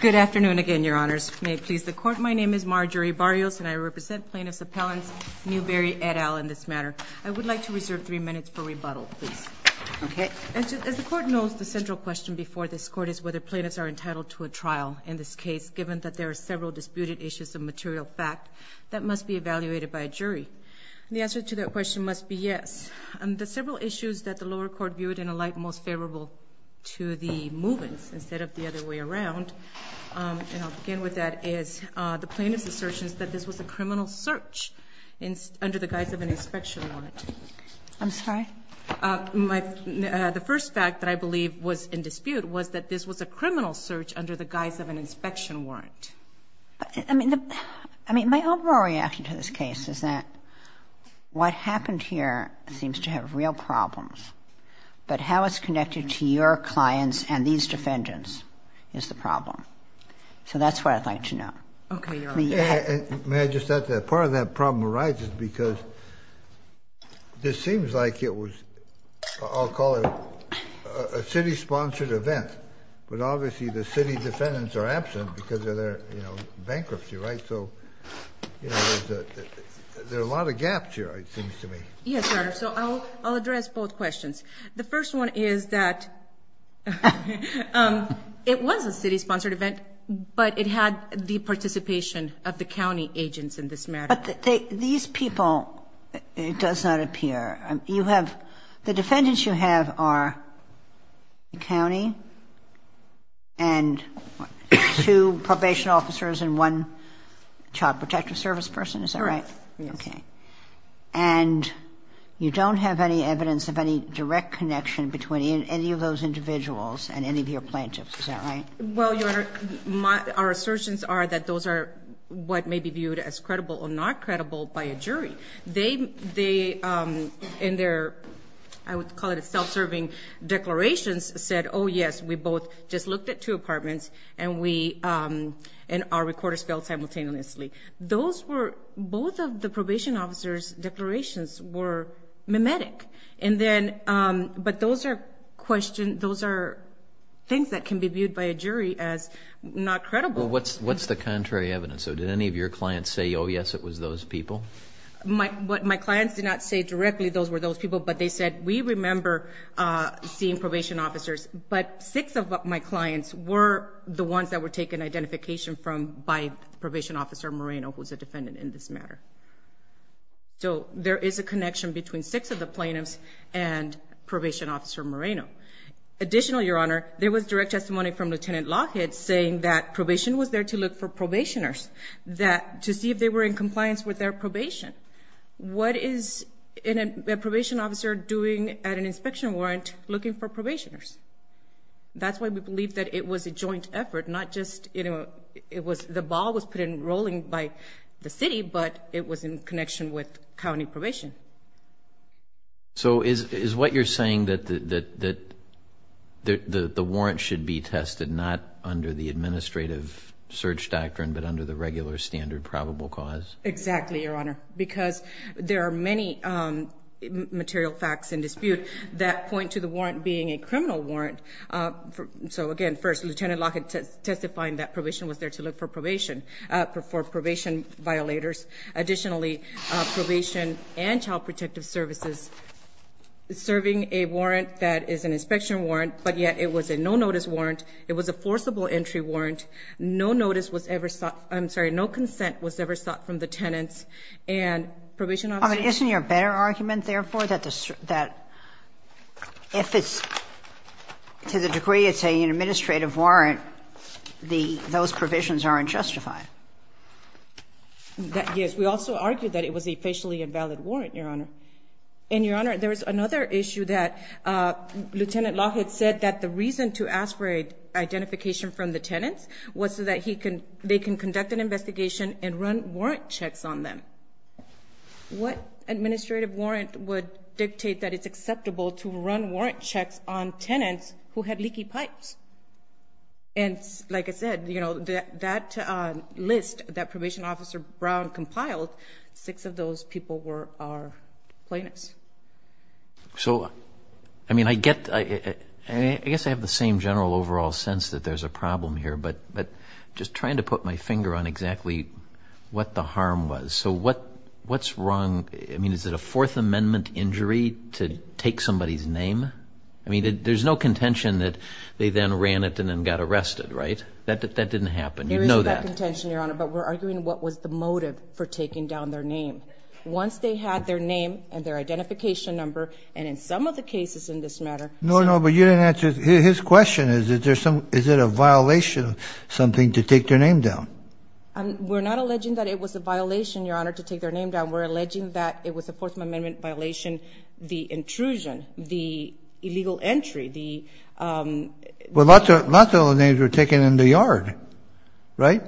Good afternoon again, Your Honors. May it please the Court, my name is Marjorie Barrios, and I represent plaintiffs' appellants Newberry et al. in this matter. I would like to reserve three minutes for rebuttal, please. As the Court knows, the central question before this Court is whether plaintiffs are entitled to a trial in this case, given that there are several disputed issues of material fact that must be evaluated by a jury. The answer to that question must be yes. The several issues that the lower court viewed in a light most favorable to the movements instead of the other way around, and I'll begin with that, is the plaintiff's assertions that this was a criminal search under the guise of an inspection warrant. I'm sorry? The first fact that I believe was in dispute was that this was a criminal search under the guise of an inspection warrant. I mean, my overall reaction to this case is that what happened here seems to have real problems, but how it's connected to your clients and these defendants is the problem. So that's what I'd like to know. Okay, Your Honor. May I just add that part of that problem arises because this seems like it was, I'll call it, a city-sponsored event, but obviously the city defendants are absent because of their bankruptcy, right? So there are a lot of gaps here, it seems to me. Yes, Your Honor. So I'll address both questions. The first one is that it was a city-sponsored event, but it had the participation of the county agents in this matter. But these people, it does not appear. The defendants you have are the county and two probation officers and one child protective service person, is that right? Yes. Okay. And you don't have any evidence of any direct connection between any of those individuals and any of your plaintiffs, is that right? Well, Your Honor, our assertions are that those are what may be viewed as credible or not credible by a jury. They, in their, I would call it self-serving declarations, said, oh, yes, we both just looked at two apartments and our recorder spelled simultaneously. Those were, both of the probation officers' declarations were mimetic. And then, but those are questions, those are things that can be viewed by a jury as not credible. Well, what's the contrary evidence? So did any of your clients say, oh, yes, it was those people? My clients did not say directly those were those people, but they said we remember seeing probation officers. But six of my clients were the ones that were taken identification from by probation officer Moreno, who was a defendant in this matter. So there is a connection between six of the plaintiffs and probation officer Moreno. Additionally, Your Honor, there was direct testimony from Lieutenant Lockett saying that probation was there to look for probationers, that to see if they were in compliance with their probation. What is a probation officer doing at an inspection warrant looking for probationers? That's why we believe that it was a joint effort, not just, you know, it was the ball was put in rolling by the city, but it was in connection with county probation. So is what you're saying that the warrant should be tested not under the administrative search doctrine, but under the regular standard probable cause? Exactly, Your Honor, because there are many material facts in dispute that point to the warrant being a criminal warrant. So, again, first, Lieutenant Lockett testifying that probation was there to look for probation for probation violators. Additionally, probation and child protective services serving a warrant that is an inspection warrant, but yet it was a no-notice warrant. It was a forcible entry warrant. No notice was ever sought. I'm sorry, no consent was ever sought from the tenants and probation officers. Isn't there a better argument, therefore, that if it's to the degree it's an administrative warrant, those provisions aren't justified? Yes, we also argue that it was a facially invalid warrant, Your Honor. And, Your Honor, there is another issue that Lieutenant Lockett said that the reason to aspirate identification from the tenants was so that they can conduct an investigation and run warrant checks on them. What administrative warrant would dictate that it's acceptable to run warrant checks on tenants who had leaky pipes? And, like I said, that list that Probation Officer Brown compiled, six of those people were our plaintiffs. So, I mean, I guess I have the same general overall sense that there's a problem here, but I'm just trying to put my finger on exactly what the harm was. So what's wrong? I mean, is it a Fourth Amendment injury to take somebody's name? I mean, there's no contention that they then ran it and then got arrested, right? That didn't happen. You know that. There is no contention, Your Honor, but we're arguing what was the motive for taking down their name. Once they had their name and their identification number, and in some of the cases in this matter. No, no, but you didn't answer. His question is, is it a violation of something to take their name down? We're not alleging that it was a violation, Your Honor, to take their name down. We're alleging that it was a Fourth Amendment violation, the intrusion, the illegal entry, the... Well, lots of those names were taken in the yard, right?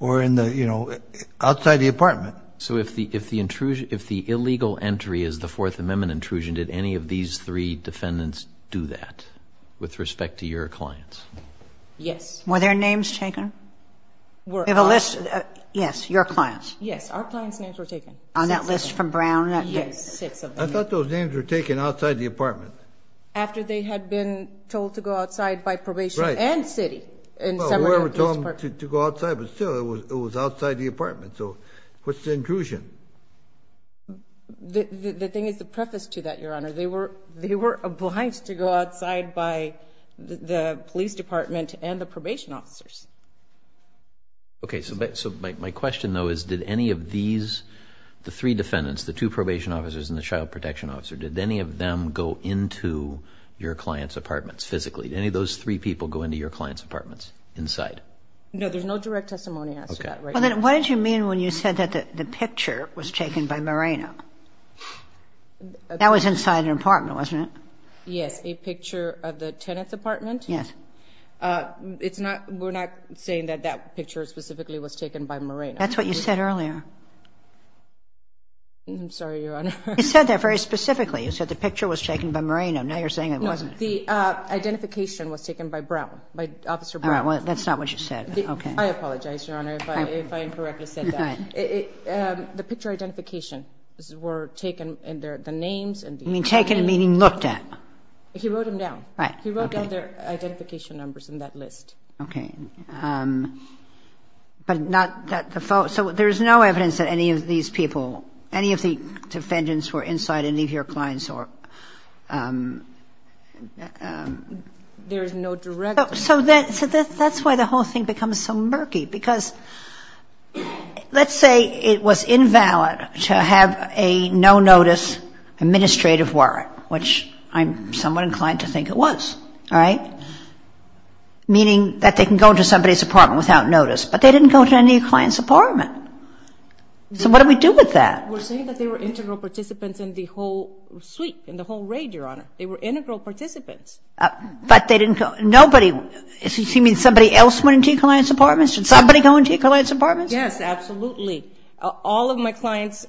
Or in the, you know, outside the apartment. So if the illegal entry is the Fourth Amendment intrusion, did any of these three defendants do that with respect to your clients? Yes. Were their names taken? We have a list. Yes, your clients. Yes, our clients' names were taken. On that list from Brown? Yes. I thought those names were taken outside the apartment. After they had been told to go outside by probation and city. Well, whoever told them to go outside, but still, it was outside the apartment. So what's the intrusion? The thing is the preface to that, Your Honor. They were obliged to go outside by the police department and the probation officers. Okay, so my question, though, is did any of these, the three defendants, the two probation officers and the child protection officer, did any of them go into your clients' apartments physically? Did any of those three people go into your clients' apartments inside? No, there's no direct testimony as to that right now. Okay. Well, then what did you mean when you said that the picture was taken by Moreno? That was inside an apartment, wasn't it? Yes, a picture of the tenant's apartment. Yes. We're not saying that that picture specifically was taken by Moreno. That's what you said earlier. I'm sorry, Your Honor. You said that very specifically. You said the picture was taken by Moreno. Now you're saying it wasn't. No, the identification was taken by Brown, by Officer Brown. All right. Well, that's not what you said. I apologize, Your Honor, if I incorrectly said that. The picture identification were taken and the names. You mean taken, meaning looked at. He wrote them down. Right. He wrote down their identification numbers in that list. Okay. So there's no evidence that any of these people, any of the defendants were inside any of your clients' apartments? There is no direct evidence. So that's why the whole thing becomes so murky, because let's say it was invalid to have a no-notice administrative warrant, which I'm somewhat inclined to think it was, all right, meaning that they can go into somebody's apartment without notice, but they didn't go into any of your clients' apartments. So what do we do with that? We're saying that they were integral participants in the whole suite, in the whole raid, Your Honor. They were integral participants. But they didn't go to anybody. Does he mean somebody else went into your clients' apartments? Did somebody go into your clients' apartments? Yes, absolutely. All of my clients,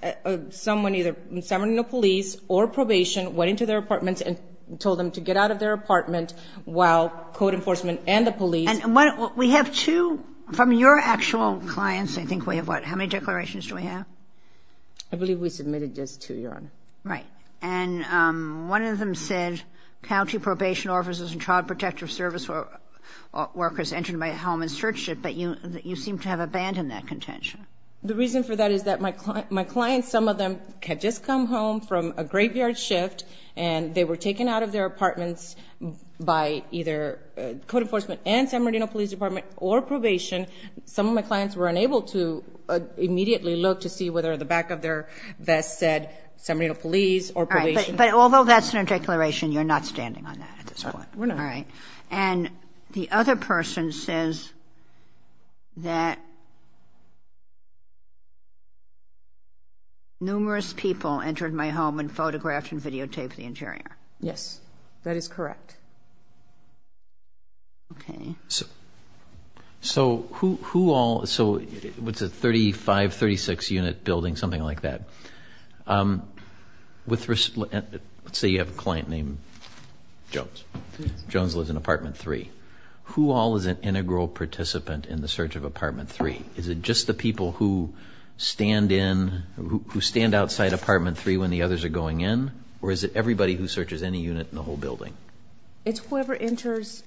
someone, either someone in the police or probation, went into their apartments and told them to get out of their apartment while code enforcement and the police. And we have two from your actual clients, I think we have what, how many declarations do we have? I believe we submitted just two, Your Honor. Right. And one of them said, county probation officers and child protective service workers entered my home and searched it, but you seem to have abandoned that contention. The reason for that is that my clients, some of them had just come home from a graveyard shift and they were taken out of their apartments by either code enforcement and San Bernardino Police Department or probation. Some of my clients were unable to immediately look to see whether the back of their vest said San Bernardino Police or probation. But although that's in a declaration, you're not standing on that at this point. We're not. All right. And the other person says that numerous people entered my home and photographed and videotaped the interior. Yes, that is correct. Okay. So who all, so what's it, 35, 36 unit building, something like that. Let's say you have a client named Jones. Jones lives in Apartment 3. Who all is an integral participant in the search of Apartment 3? Is it just the people who stand in, who stand outside Apartment 3 when the others are going in? Or is it everybody who searches any unit in the whole building? It's whoever enters,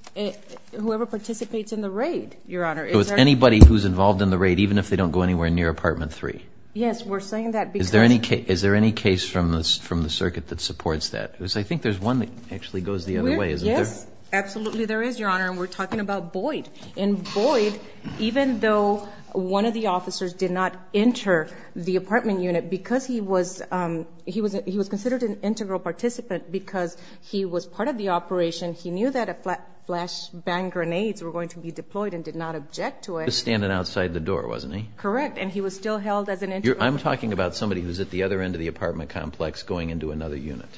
whoever participates in the raid, Your Honor. So it's anybody who's involved in the raid, even if they don't go anywhere near Apartment 3? Yes, we're saying that because. Is there any case from the circuit that supports that? Because I think there's one that actually goes the other way. Yes, absolutely there is, Your Honor. And we're talking about Boyd. And Boyd, even though one of the officers did not enter the apartment unit, because he was considered an integral participant, because he was part of the operation, he knew that flash bang grenades were going to be deployed and did not object to it. He was standing outside the door, wasn't he? Correct. And he was still held as an integral participant. I'm talking about somebody who's at the other end of the apartment complex going into another unit.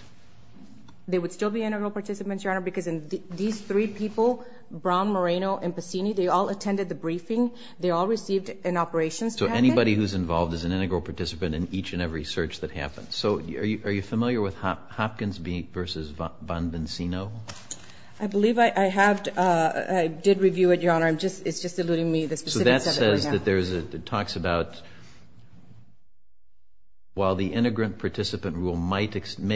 They would still be integral participants, Your Honor, because these three people, Brown, Moreno, and Passini, they all attended the briefing. They all received an operations packet. So anybody who's involved is an integral participant in each and every search that happens. So are you familiar with Hopkins v. Bonvincino? I believe I have. I did review it, Your Honor. It's just eluding me. So that says that there's a talks about while the integrant participant rule may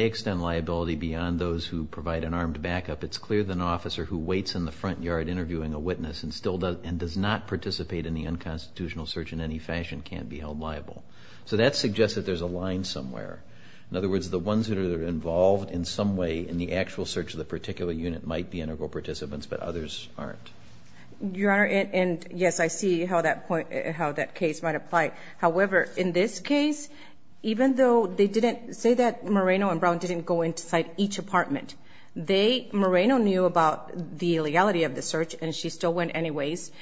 extend liability beyond those who provide an armed backup, it's clear that an officer who waits in the front yard interviewing a witness and does not participate in the unconstitutional search in any fashion can't be held liable. So that suggests that there's a line somewhere. In other words, the ones that are involved in some way in the actual search of the particular unit might be integral participants, but others aren't. Your Honor, and, yes, I see how that case might apply. However, in this case, even though they didn't say that Moreno and Brown didn't go inside each apartment, Moreno knew about the illegality of the search, and she still went anyways.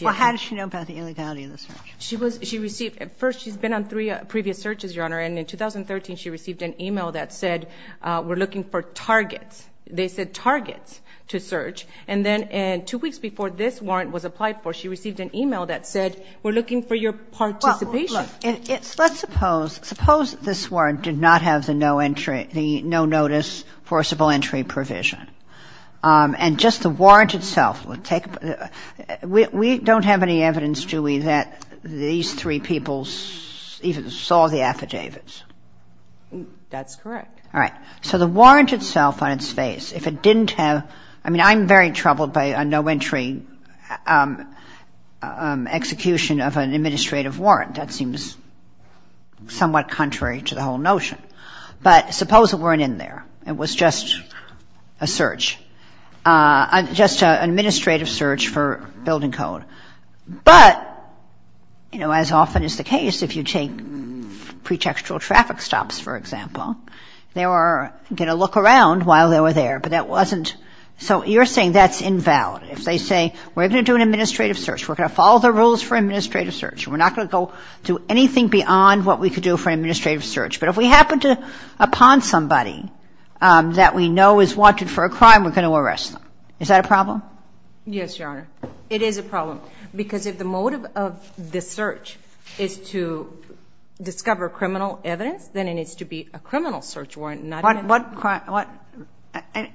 Well, how did she know about the illegality of the search? First, she's been on three previous searches, Your Honor, and in 2013 she received an email that said, we're looking for targets. They said targets to search. And then two weeks before this warrant was applied for, she received an email that said, we're looking for your participation. Well, look, let's suppose, suppose this warrant did not have the no entry, the no notice forcible entry provision. And just the warrant itself, we don't have any evidence, do we, that these three people even saw the affidavits? That's correct. All right. So the warrant itself on its face, if it didn't have, I mean, I'm very troubled by a no entry execution of an administrative warrant. That seems somewhat contrary to the whole notion. But suppose it weren't in there. It was just a search, just an administrative search for building code. But, you know, as often is the case, if you take pretextual traffic stops, for example, they were going to look around while they were there. But that wasn't, so you're saying that's invalid. If they say, we're going to do an administrative search, we're going to follow the rules for an administrative search, we're not going to go do anything beyond what we could do for an administrative search. But if we happen to pawn somebody that we know is wanted for a crime, we're going to arrest them. Is that a problem? Yes, Your Honor. It is a problem. Because if the motive of the search is to discover criminal evidence, then it needs to be a criminal search warrant, not an administrative search warrant.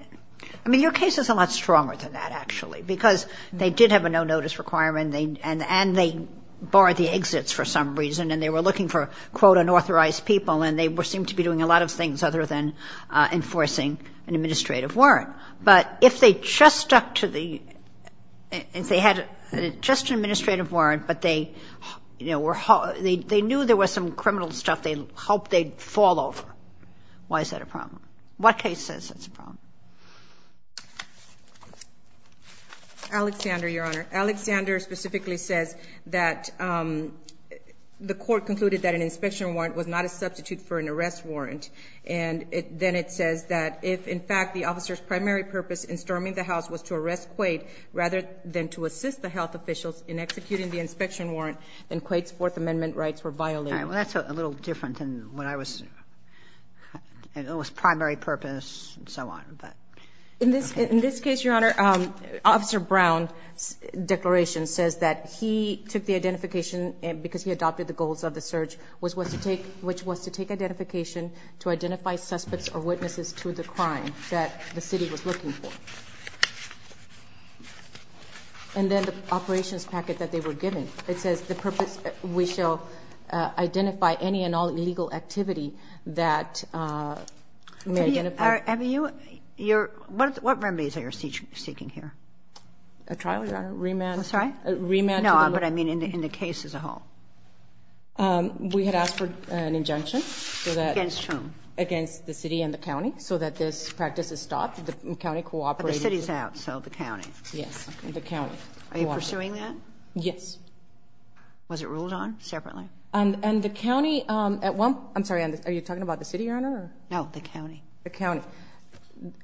I mean, your case is a lot stronger than that, actually. Because they did have a no-notice requirement, and they barred the exits for some reason. And they were looking for, quote, unauthorized people. And they seemed to be doing a lot of things other than enforcing an administrative warrant. But if they just stuck to the ‑‑ if they had just an administrative warrant, but they knew there was some criminal stuff they hoped they'd fall over, why is that a problem? What case says it's a problem? Alexander, Your Honor. Alexander specifically says that the court concluded that an inspection warrant was not a substitute for an arrest warrant. And then it says that if, in fact, the officer's primary purpose in storming the house was to arrest Quaid rather than to assist the health officials in executing the inspection warrant, then Quaid's Fourth Amendment rights were violated. All right. And it was primary purpose and so on. In this case, Your Honor, Officer Brown's declaration says that he took the identification because he adopted the goals of the search, which was to take identification to identify suspects or witnesses to the crime that the city was looking for. And then the operations packet that they were given, it says, we shall identify any and all illegal activity that may identify ‑‑ Have you ‑‑ what remedies are you seeking here? A trial, Your Honor. Remand. I'm sorry? Remand. No, but I mean in the case as a whole. We had asked for an injunction. Against whom? Against the city and the county, so that this practice is stopped. The county cooperated. But the city's out, so the county. Yes, the county cooperated. Are you pursuing that? Yes. Was it ruled on separately? And the county at one ‑‑ I'm sorry, are you talking about the city, Your Honor? No, the county. The county.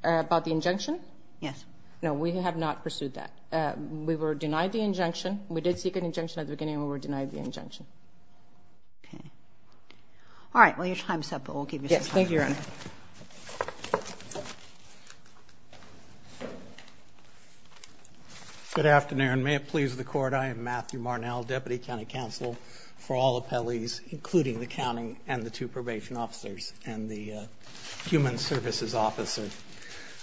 About the injunction? Yes. No, we have not pursued that. We were denied the injunction. We did seek an injunction at the beginning and we were denied the injunction. Okay. All right. Well, your time's up, but we'll give you some time. Yes, thank you, Your Honor. Good afternoon. May it please the Court. I am Matthew Marnell, Deputy County Counsel for all appellees, including the county and the two probation officers and the human services officer.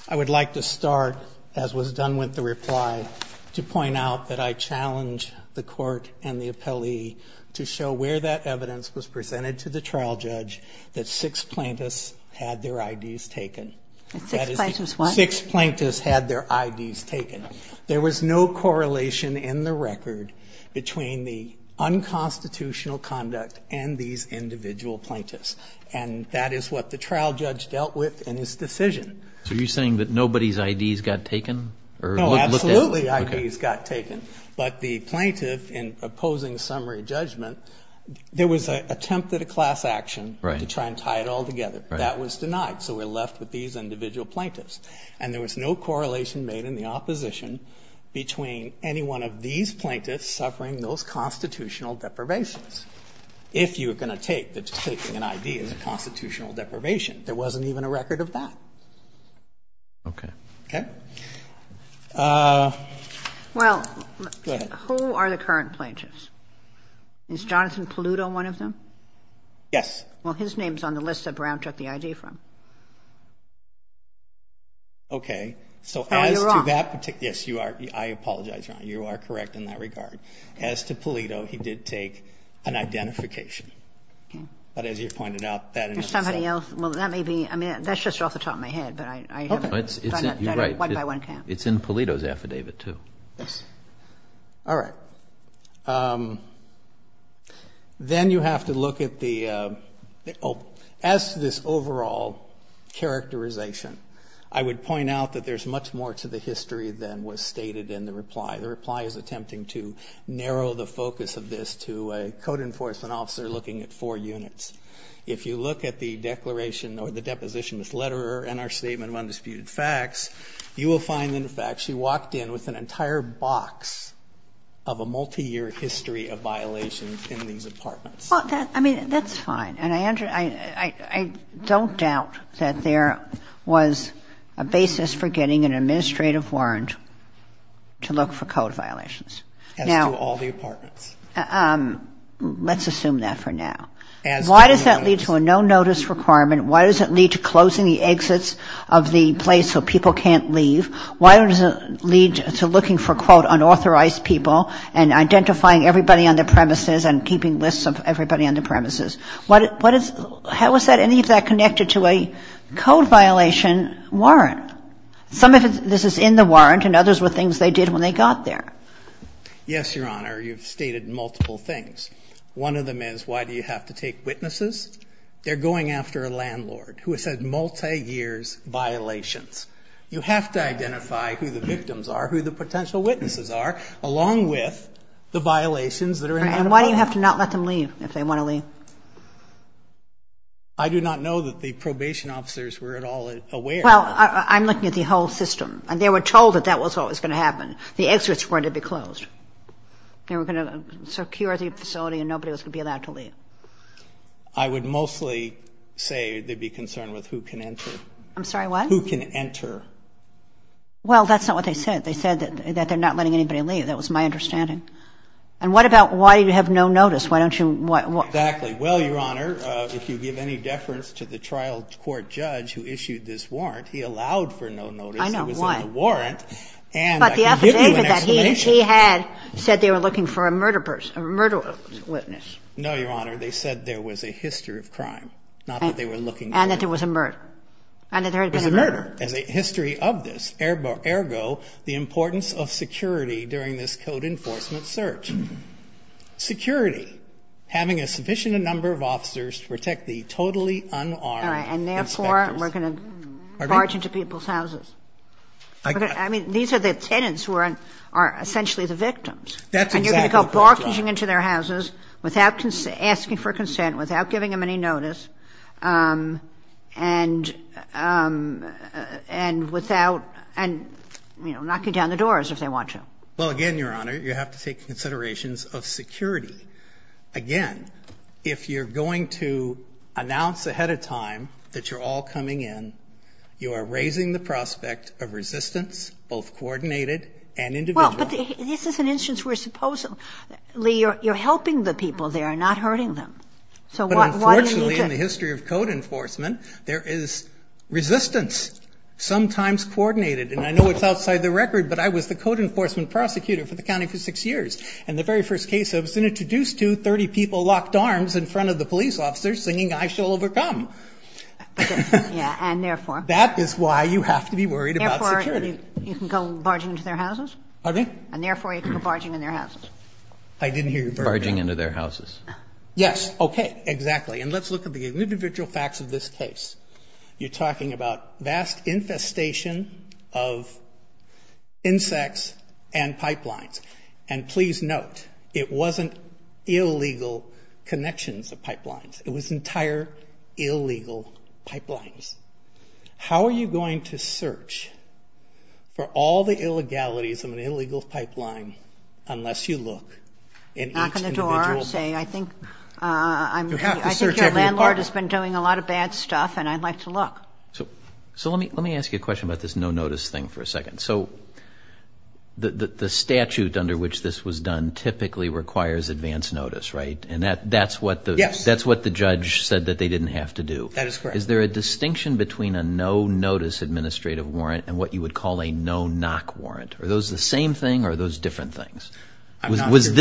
I would like to start, as was done with the reply, to point out that I challenge the Court and the appellee to show where that evidence was presented to the trial judge that six plaintiffs had their IDs taken. Six plaintiffs what? Six plaintiffs had their IDs taken. There was no correlation in the record between the unconstitutional conduct and these individual plaintiffs, and that is what the trial judge dealt with in his decision. So are you saying that nobody's IDs got taken? No, absolutely IDs got taken. But the plaintiff, in opposing summary judgment, there was an attempt at a class action to try and tie it all together. That was denied, so we're left with these individual plaintiffs. And there was no correlation made in the opposition between any one of these plaintiffs suffering those constitutional deprivations. If you're going to take that taking an ID is a constitutional deprivation, there wasn't even a record of that. Okay. Okay? Well, who are the current plaintiffs? Is Jonathan Paluto one of them? Yes. Well, his name is on the list that Brown took the ID from. Okay. So as to that particular ---- Oh, you're wrong. Yes, I apologize, Ron. You are correct in that regard. As to Paluto, he did take an identification. But as you pointed out, that in itself ---- There's somebody else. Well, that may be ---- I mean, that's just off the top of my head, but I haven't ---- Okay. You're right. One by one count. It's in Paluto's affidavit, too. Yes. All right. Then you have to look at the ---- As to this overall characterization, I would point out that there's much more to the history than was stated in the reply. The reply is attempting to narrow the focus of this to a code enforcement officer looking at four units. If you look at the declaration or the deposition, this letter and our statement of undisputed facts, you will find, in fact, she walked in with an entire box of a multiyear history of violations in these apartments. I mean, that's fine. And I don't doubt that there was a basis for getting an administrative warrant to look for code violations. As to all the apartments. Let's assume that for now. As to the units. Why does that lead to a no-notice requirement? Why does it lead to closing the exits of the place so people can't leave? Why does it lead to looking for, quote, unauthorized people and identifying everybody on the premises and keeping lists of everybody on the premises? How is any of that connected to a code violation warrant? Some of this is in the warrant, and others were things they did when they got there. Yes, Your Honor. You've stated multiple things. One of them is why do you have to take witnesses? They're going after a landlord who has had multiyear violations. You have to identify who the victims are, who the potential witnesses are, along with the violations that are in that apartment. And why do you have to not let them leave if they want to leave? I do not know that the probation officers were at all aware. Well, I'm looking at the whole system. And they were told that that was what was going to happen. The exits were going to be closed. They were going to secure the facility and nobody was going to be allowed to leave. I would mostly say they'd be concerned with who can enter. I'm sorry, what? Who can enter. Well, that's not what they said. They said that they're not letting anybody leave. That was my understanding. And what about why do you have no notice? Why don't you – Exactly. Well, Your Honor, if you give any deference to the trial court judge who issued this warrant, he allowed for no notice. I know. What? It was in the warrant. And I can give you an explanation. But the officer stated that he had said they were looking for a murder person, a murder witness. No, Your Honor. They said there was a history of crime, not that they were looking for a murder. And that there was a murder. And that there had been a murder. There was a murder. There's a history of this. Ergo, the importance of security during this code enforcement search. Security, having a sufficient number of officers to protect the totally unarmed inspectors. All right. And therefore, we're going to barge into people's houses. I mean, these are the tenants who are essentially the victims. That's exactly correct, Your Honor. And you're going to go barging into their houses without asking for consent, without giving them any notice, and without, you know, knocking down the doors if they want to. Well, again, Your Honor, you have to take considerations of security. Again, if you're going to announce ahead of time that you're all coming in, you are raising the prospect of resistance, both coordinated and individual. Well, but this is an instance where supposedly you're helping the people there, not hurting them. So what do you do? But unfortunately, in the history of code enforcement, there is resistance, sometimes coordinated. And I know it's outside the record, but I was the code enforcement prosecutor for the county for six years. And the very first case I was introduced to, 30 people locked arms in front of the police officers singing, I shall overcome. Yeah, and therefore. That is why you have to be worried about security. Therefore, you can go barging into their houses. Pardon me? And therefore, you can go barging into their houses. I didn't hear you. Barging into their houses. Yes. Okay. Exactly. And let's look at the individual facts of this case. You're talking about vast infestation of insects and pipelines. And please note, it wasn't illegal connections of pipelines. It was entire illegal pipelines. How are you going to search for all the illegalities of an illegal pipeline unless you look in each individual pipeline? Knock on the door and say, I think your landlord has been doing a lot of bad stuff, and I'd like to look. So let me ask you a question about this no-notice thing for a second. So the statute under which this was done typically requires advance notice, right? And that's what the judge said that they didn't have to do. That is correct. Is there a distinction between a no-notice administrative warrant and what you would call a no-knock warrant? Are those the same thing or are those different things? Was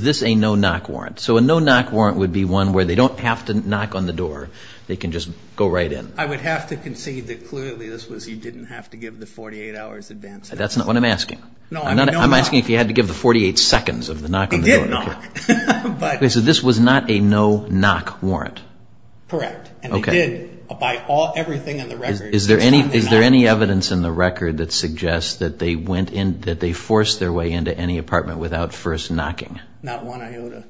this a no-knock warrant? So a no-knock warrant would be one where they don't have to knock on the door. They can just go right in. I would have to concede that clearly this was you didn't have to give the 48 hours advance notice. That's not what I'm asking. I'm asking if you had to give the 48 seconds of the knock on the door. It did knock. So this was not a no-knock warrant? Correct. And they did, by everything in the record. Is there any evidence in the record that suggests that they forced their way into any apartment without first knocking? Not one iota.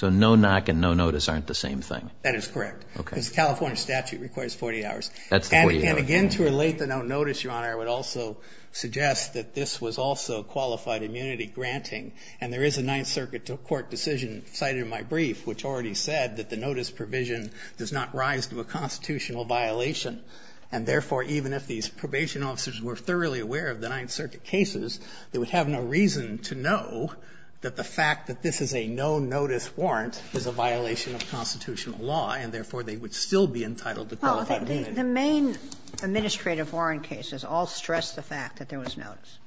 So no-knock and no-notice aren't the same thing? That is correct. Because the California statute requires 48 hours. And again, to relate the no-notice, Your Honor, I would also suggest that this was also qualified immunity granting and there is a Ninth Circuit court decision cited in my brief which already said that the notice provision does not rise to a constitutional violation. And therefore, even if these probation officers were thoroughly aware of the Ninth Circuit cases, they would have no reason to know that the fact that this is a no-notice warrant is a violation of constitutional law and therefore they would still be entitled to qualified immunity. Well, the main administrative warrant cases all stress the fact that there was notice,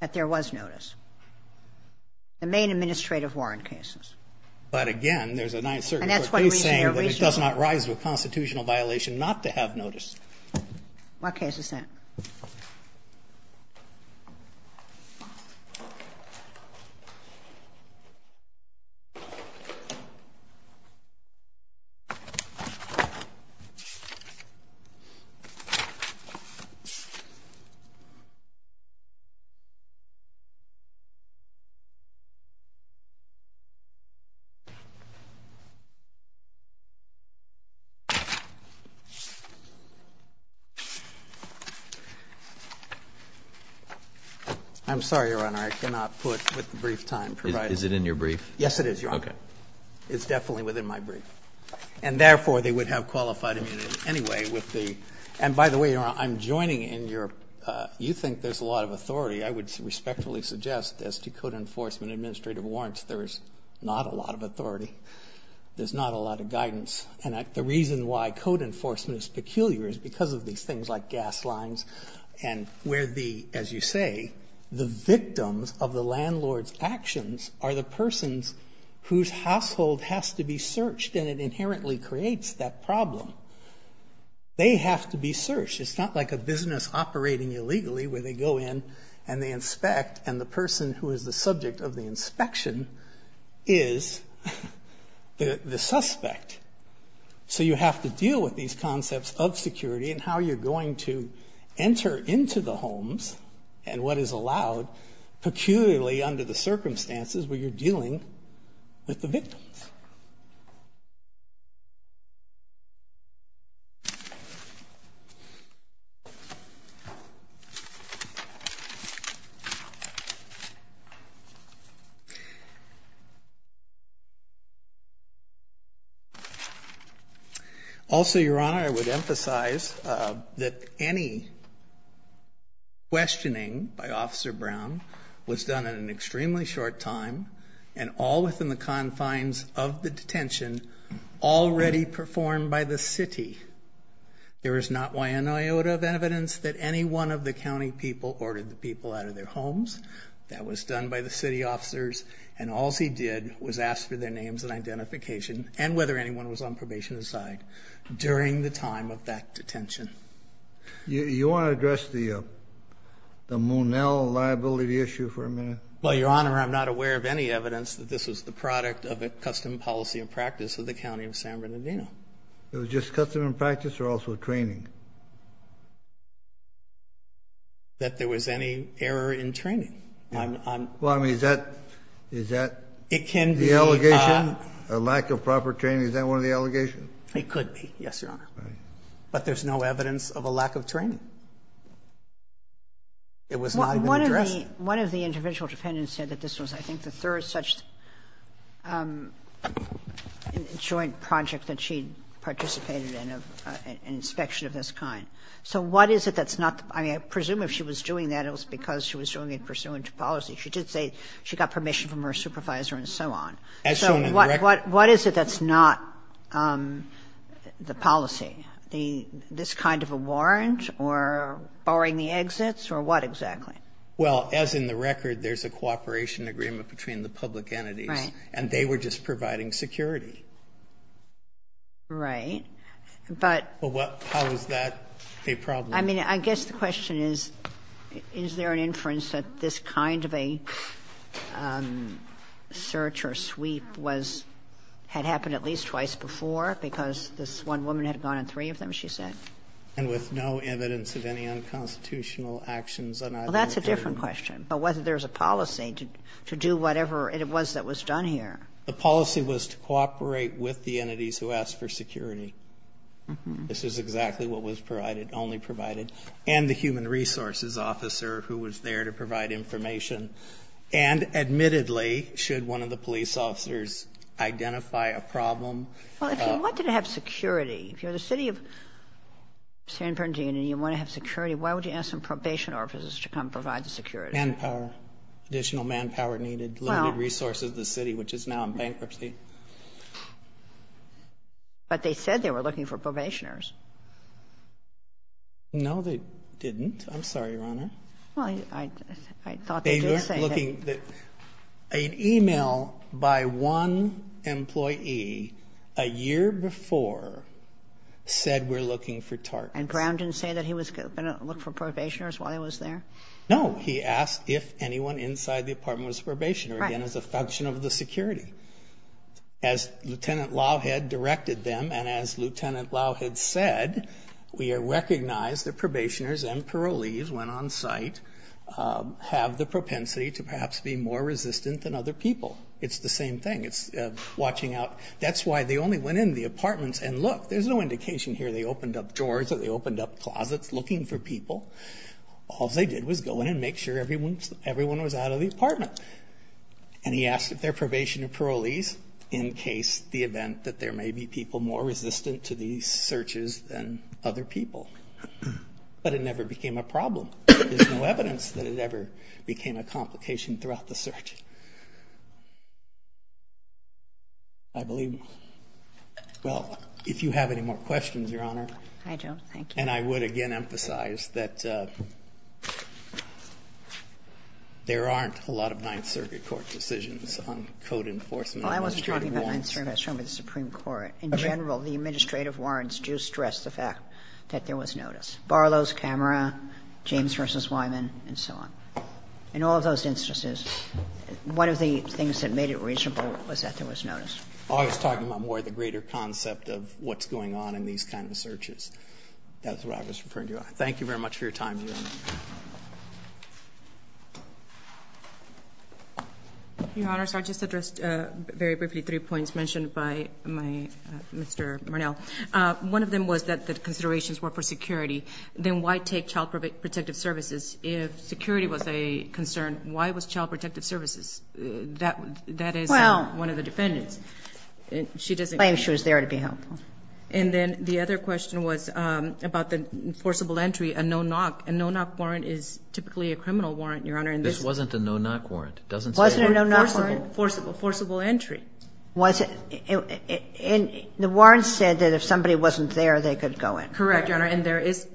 that there was notice, the main administrative warrant cases. But again, there's a Ninth Circuit court case saying that it does not rise to a constitutional violation not to have notice. What case is that? I'm sorry, Your Honor, I cannot put with the brief time provided. Is it in your brief? Yes, it is, Your Honor. Okay. It's definitely within my brief. And therefore, they would have qualified immunity anyway with the — and by the way, Your Honor, I think there's a lot of authority. I would respectfully suggest as to code enforcement administrative warrants, there's not a lot of authority. There's not a lot of guidance. And the reason why code enforcement is peculiar is because of these things like gas lines and where the, as you say, the victims of the landlord's actions are the persons whose household has to be searched and it inherently creates that problem. They have to be searched. It's not like a business operating illegally where they go in and they inspect and the person who is the subject of the inspection is the suspect. So you have to deal with these concepts of security and how you're going to enter into the homes and what is allowed, peculiarly under the circumstances where you're dealing with the victims. Also, Your Honor, I would emphasize that any questioning by Officer Brown was done in an all-within-the-confines of the detention already performed by the city. There is not one iota of evidence that any one of the county people ordered the people out of their homes. That was done by the city officers. And all he did was ask for their names and identification and whether anyone was on probation aside during the time of that detention. You want to address the Monell liability issue for a minute? Well, Your Honor, I'm not aware of any evidence that this was the product of a custom policy and practice of the county of San Bernardino. It was just custom and practice or also training? That there was any error in training. Well, I mean, is that the allegation, a lack of proper training? Is that one of the allegations? It could be, yes, Your Honor. But there's no evidence of a lack of training. It was not addressed. One of the individual defendants said that this was, I think, the third such joint project that she participated in, an inspection of this kind. So what is it that's not the – I mean, I presume if she was doing that, it was because she was doing it pursuant to policy. She did say she got permission from her supervisor and so on. As shown in the record. So what is it that's not the policy, this kind of a warrant or barring the exits or what exactly? Well, as in the record, there's a cooperation agreement between the public entities. Right. And they were just providing security. Right. But what – How is that a problem? I mean, I guess the question is, is there an inference that this kind of a search or sweep was – had happened at least twice before because this one woman had gone on three of them, she said? And with no evidence of any unconstitutional actions on either of them. Well, that's a different question. Whether there's a policy to do whatever it was that was done here. The policy was to cooperate with the entities who asked for security. This is exactly what was provided – only provided. And the human resources officer who was there to provide information. And admittedly, should one of the police officers identify a problem – Well, if you wanted to have security, if you're the city of San Bernardino and you want to have security, why would you ask some probation officers to come provide the security? Manpower. Additional manpower needed, limited resources to the city, which is now in bankruptcy. But they said they were looking for probationers. No, they didn't. I'm sorry, Your Honor. Well, I thought they did say that. An email by one employee a year before said we're looking for TARPs. And Ground didn't say that he was going to look for probationers while he was there? No. He asked if anyone inside the apartment was a probationer, again, as a function of the security. As Lieutenant Lawhead directed them, and as Lieutenant Lawhead said, we recognize that probationers and parolees, when on site, have the propensity to perhaps be more resistant than other people. It's the same thing. It's watching out. That's why they only went in the apartments and looked. There's no indication here they opened up doors or they opened up closets looking for people. All they did was go in and make sure everyone was out of the apartment. And he asked if there are probation and parolees in case the event that there may be people more resistant to these searches than other people. But it never became a problem. There's no evidence that it ever became a complication throughout the search. I believe. Well, if you have any more questions, Your Honor. I don't. Thank you. And I would again emphasize that there aren't a lot of Ninth Circuit Court decisions on code enforcement. I was talking about Ninth Circuit. I was talking about the Supreme Court. In general, the administrative warrants do stress the fact that there was notice. Barlow's camera, James v. Wyman, and so on. In all of those instances, one of the things that made it reasonable was that there was notice. I was talking about more the greater concept of what's going on in these kind of searches. That's what I was referring to. Thank you very much for your time, Your Honor. Your Honors, I'll just address very briefly three points mentioned by my Mr. Murnell. One of them was that the considerations were for security. Then why take child protective services? If security was a concern, why was child protective services? That is one of the defendants. She doesn't claim she was there to be helpful. And then the other question was about the forcible entry, a no-knock. A no-knock warrant is typically a criminal warrant, Your Honor. This wasn't a no-knock warrant. It doesn't say no-knock warrant. It wasn't a no-knock warrant. Forcible entry. And the warrant said that if somebody wasn't there, they could go in. Correct, Your Honor. And there is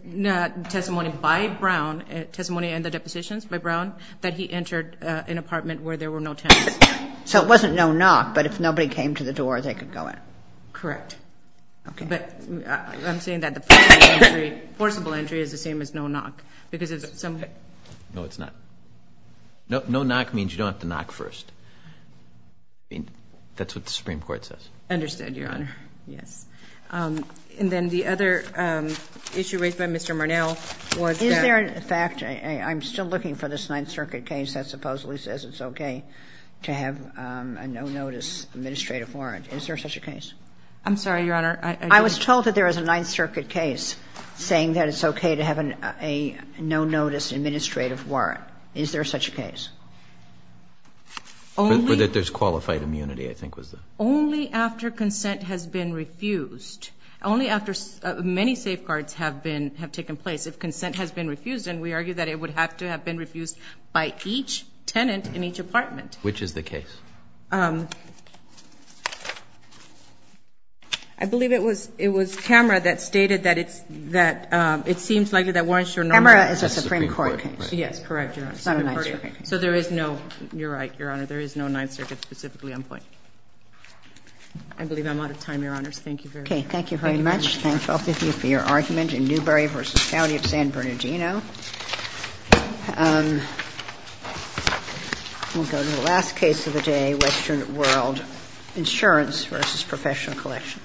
testimony by Brown, testimony and the depositions by Brown, that he entered an apartment where there were no tenants. So it wasn't no-knock, but if nobody came to the door, they could go in. Correct. Okay. But I'm saying that the forcible entry is the same as no-knock because it's somebody. No, it's not. No-knock means you don't have to knock first. That's what the Supreme Court says. Understood, Your Honor. Yes. And then the other issue raised by Mr. Marnell was that. Is there a fact, I'm still looking for this Ninth Circuit case that supposedly says it's okay to have a no-notice administrative warrant. Is there such a case? I'm sorry, Your Honor. I was told that there was a Ninth Circuit case saying that it's okay to have a no-notice administrative warrant. Is there such a case? Only. But that there's qualified immunity, I think was the. Only after consent has been refused. Only after many safeguards have been, have taken place. If consent has been refused, then we argue that it would have to have been refused by each tenant in each apartment. Which is the case? I believe it was, it was Camera that stated that it's, that it seems likely that warrants are normally. Camera is a Supreme Court case. Yes, correct, Your Honor. It's not a Ninth Circuit case. So there is no, you're right, Your Honor, there is no Ninth Circuit specifically on point. I believe I'm out of time, Your Honors. Thank you very much. Okay, thank you very much. Thank both of you for your argument in Newberry v. County of San Bernardino. We'll go to the last case of the day, Western World Insurance v. Professional Collection.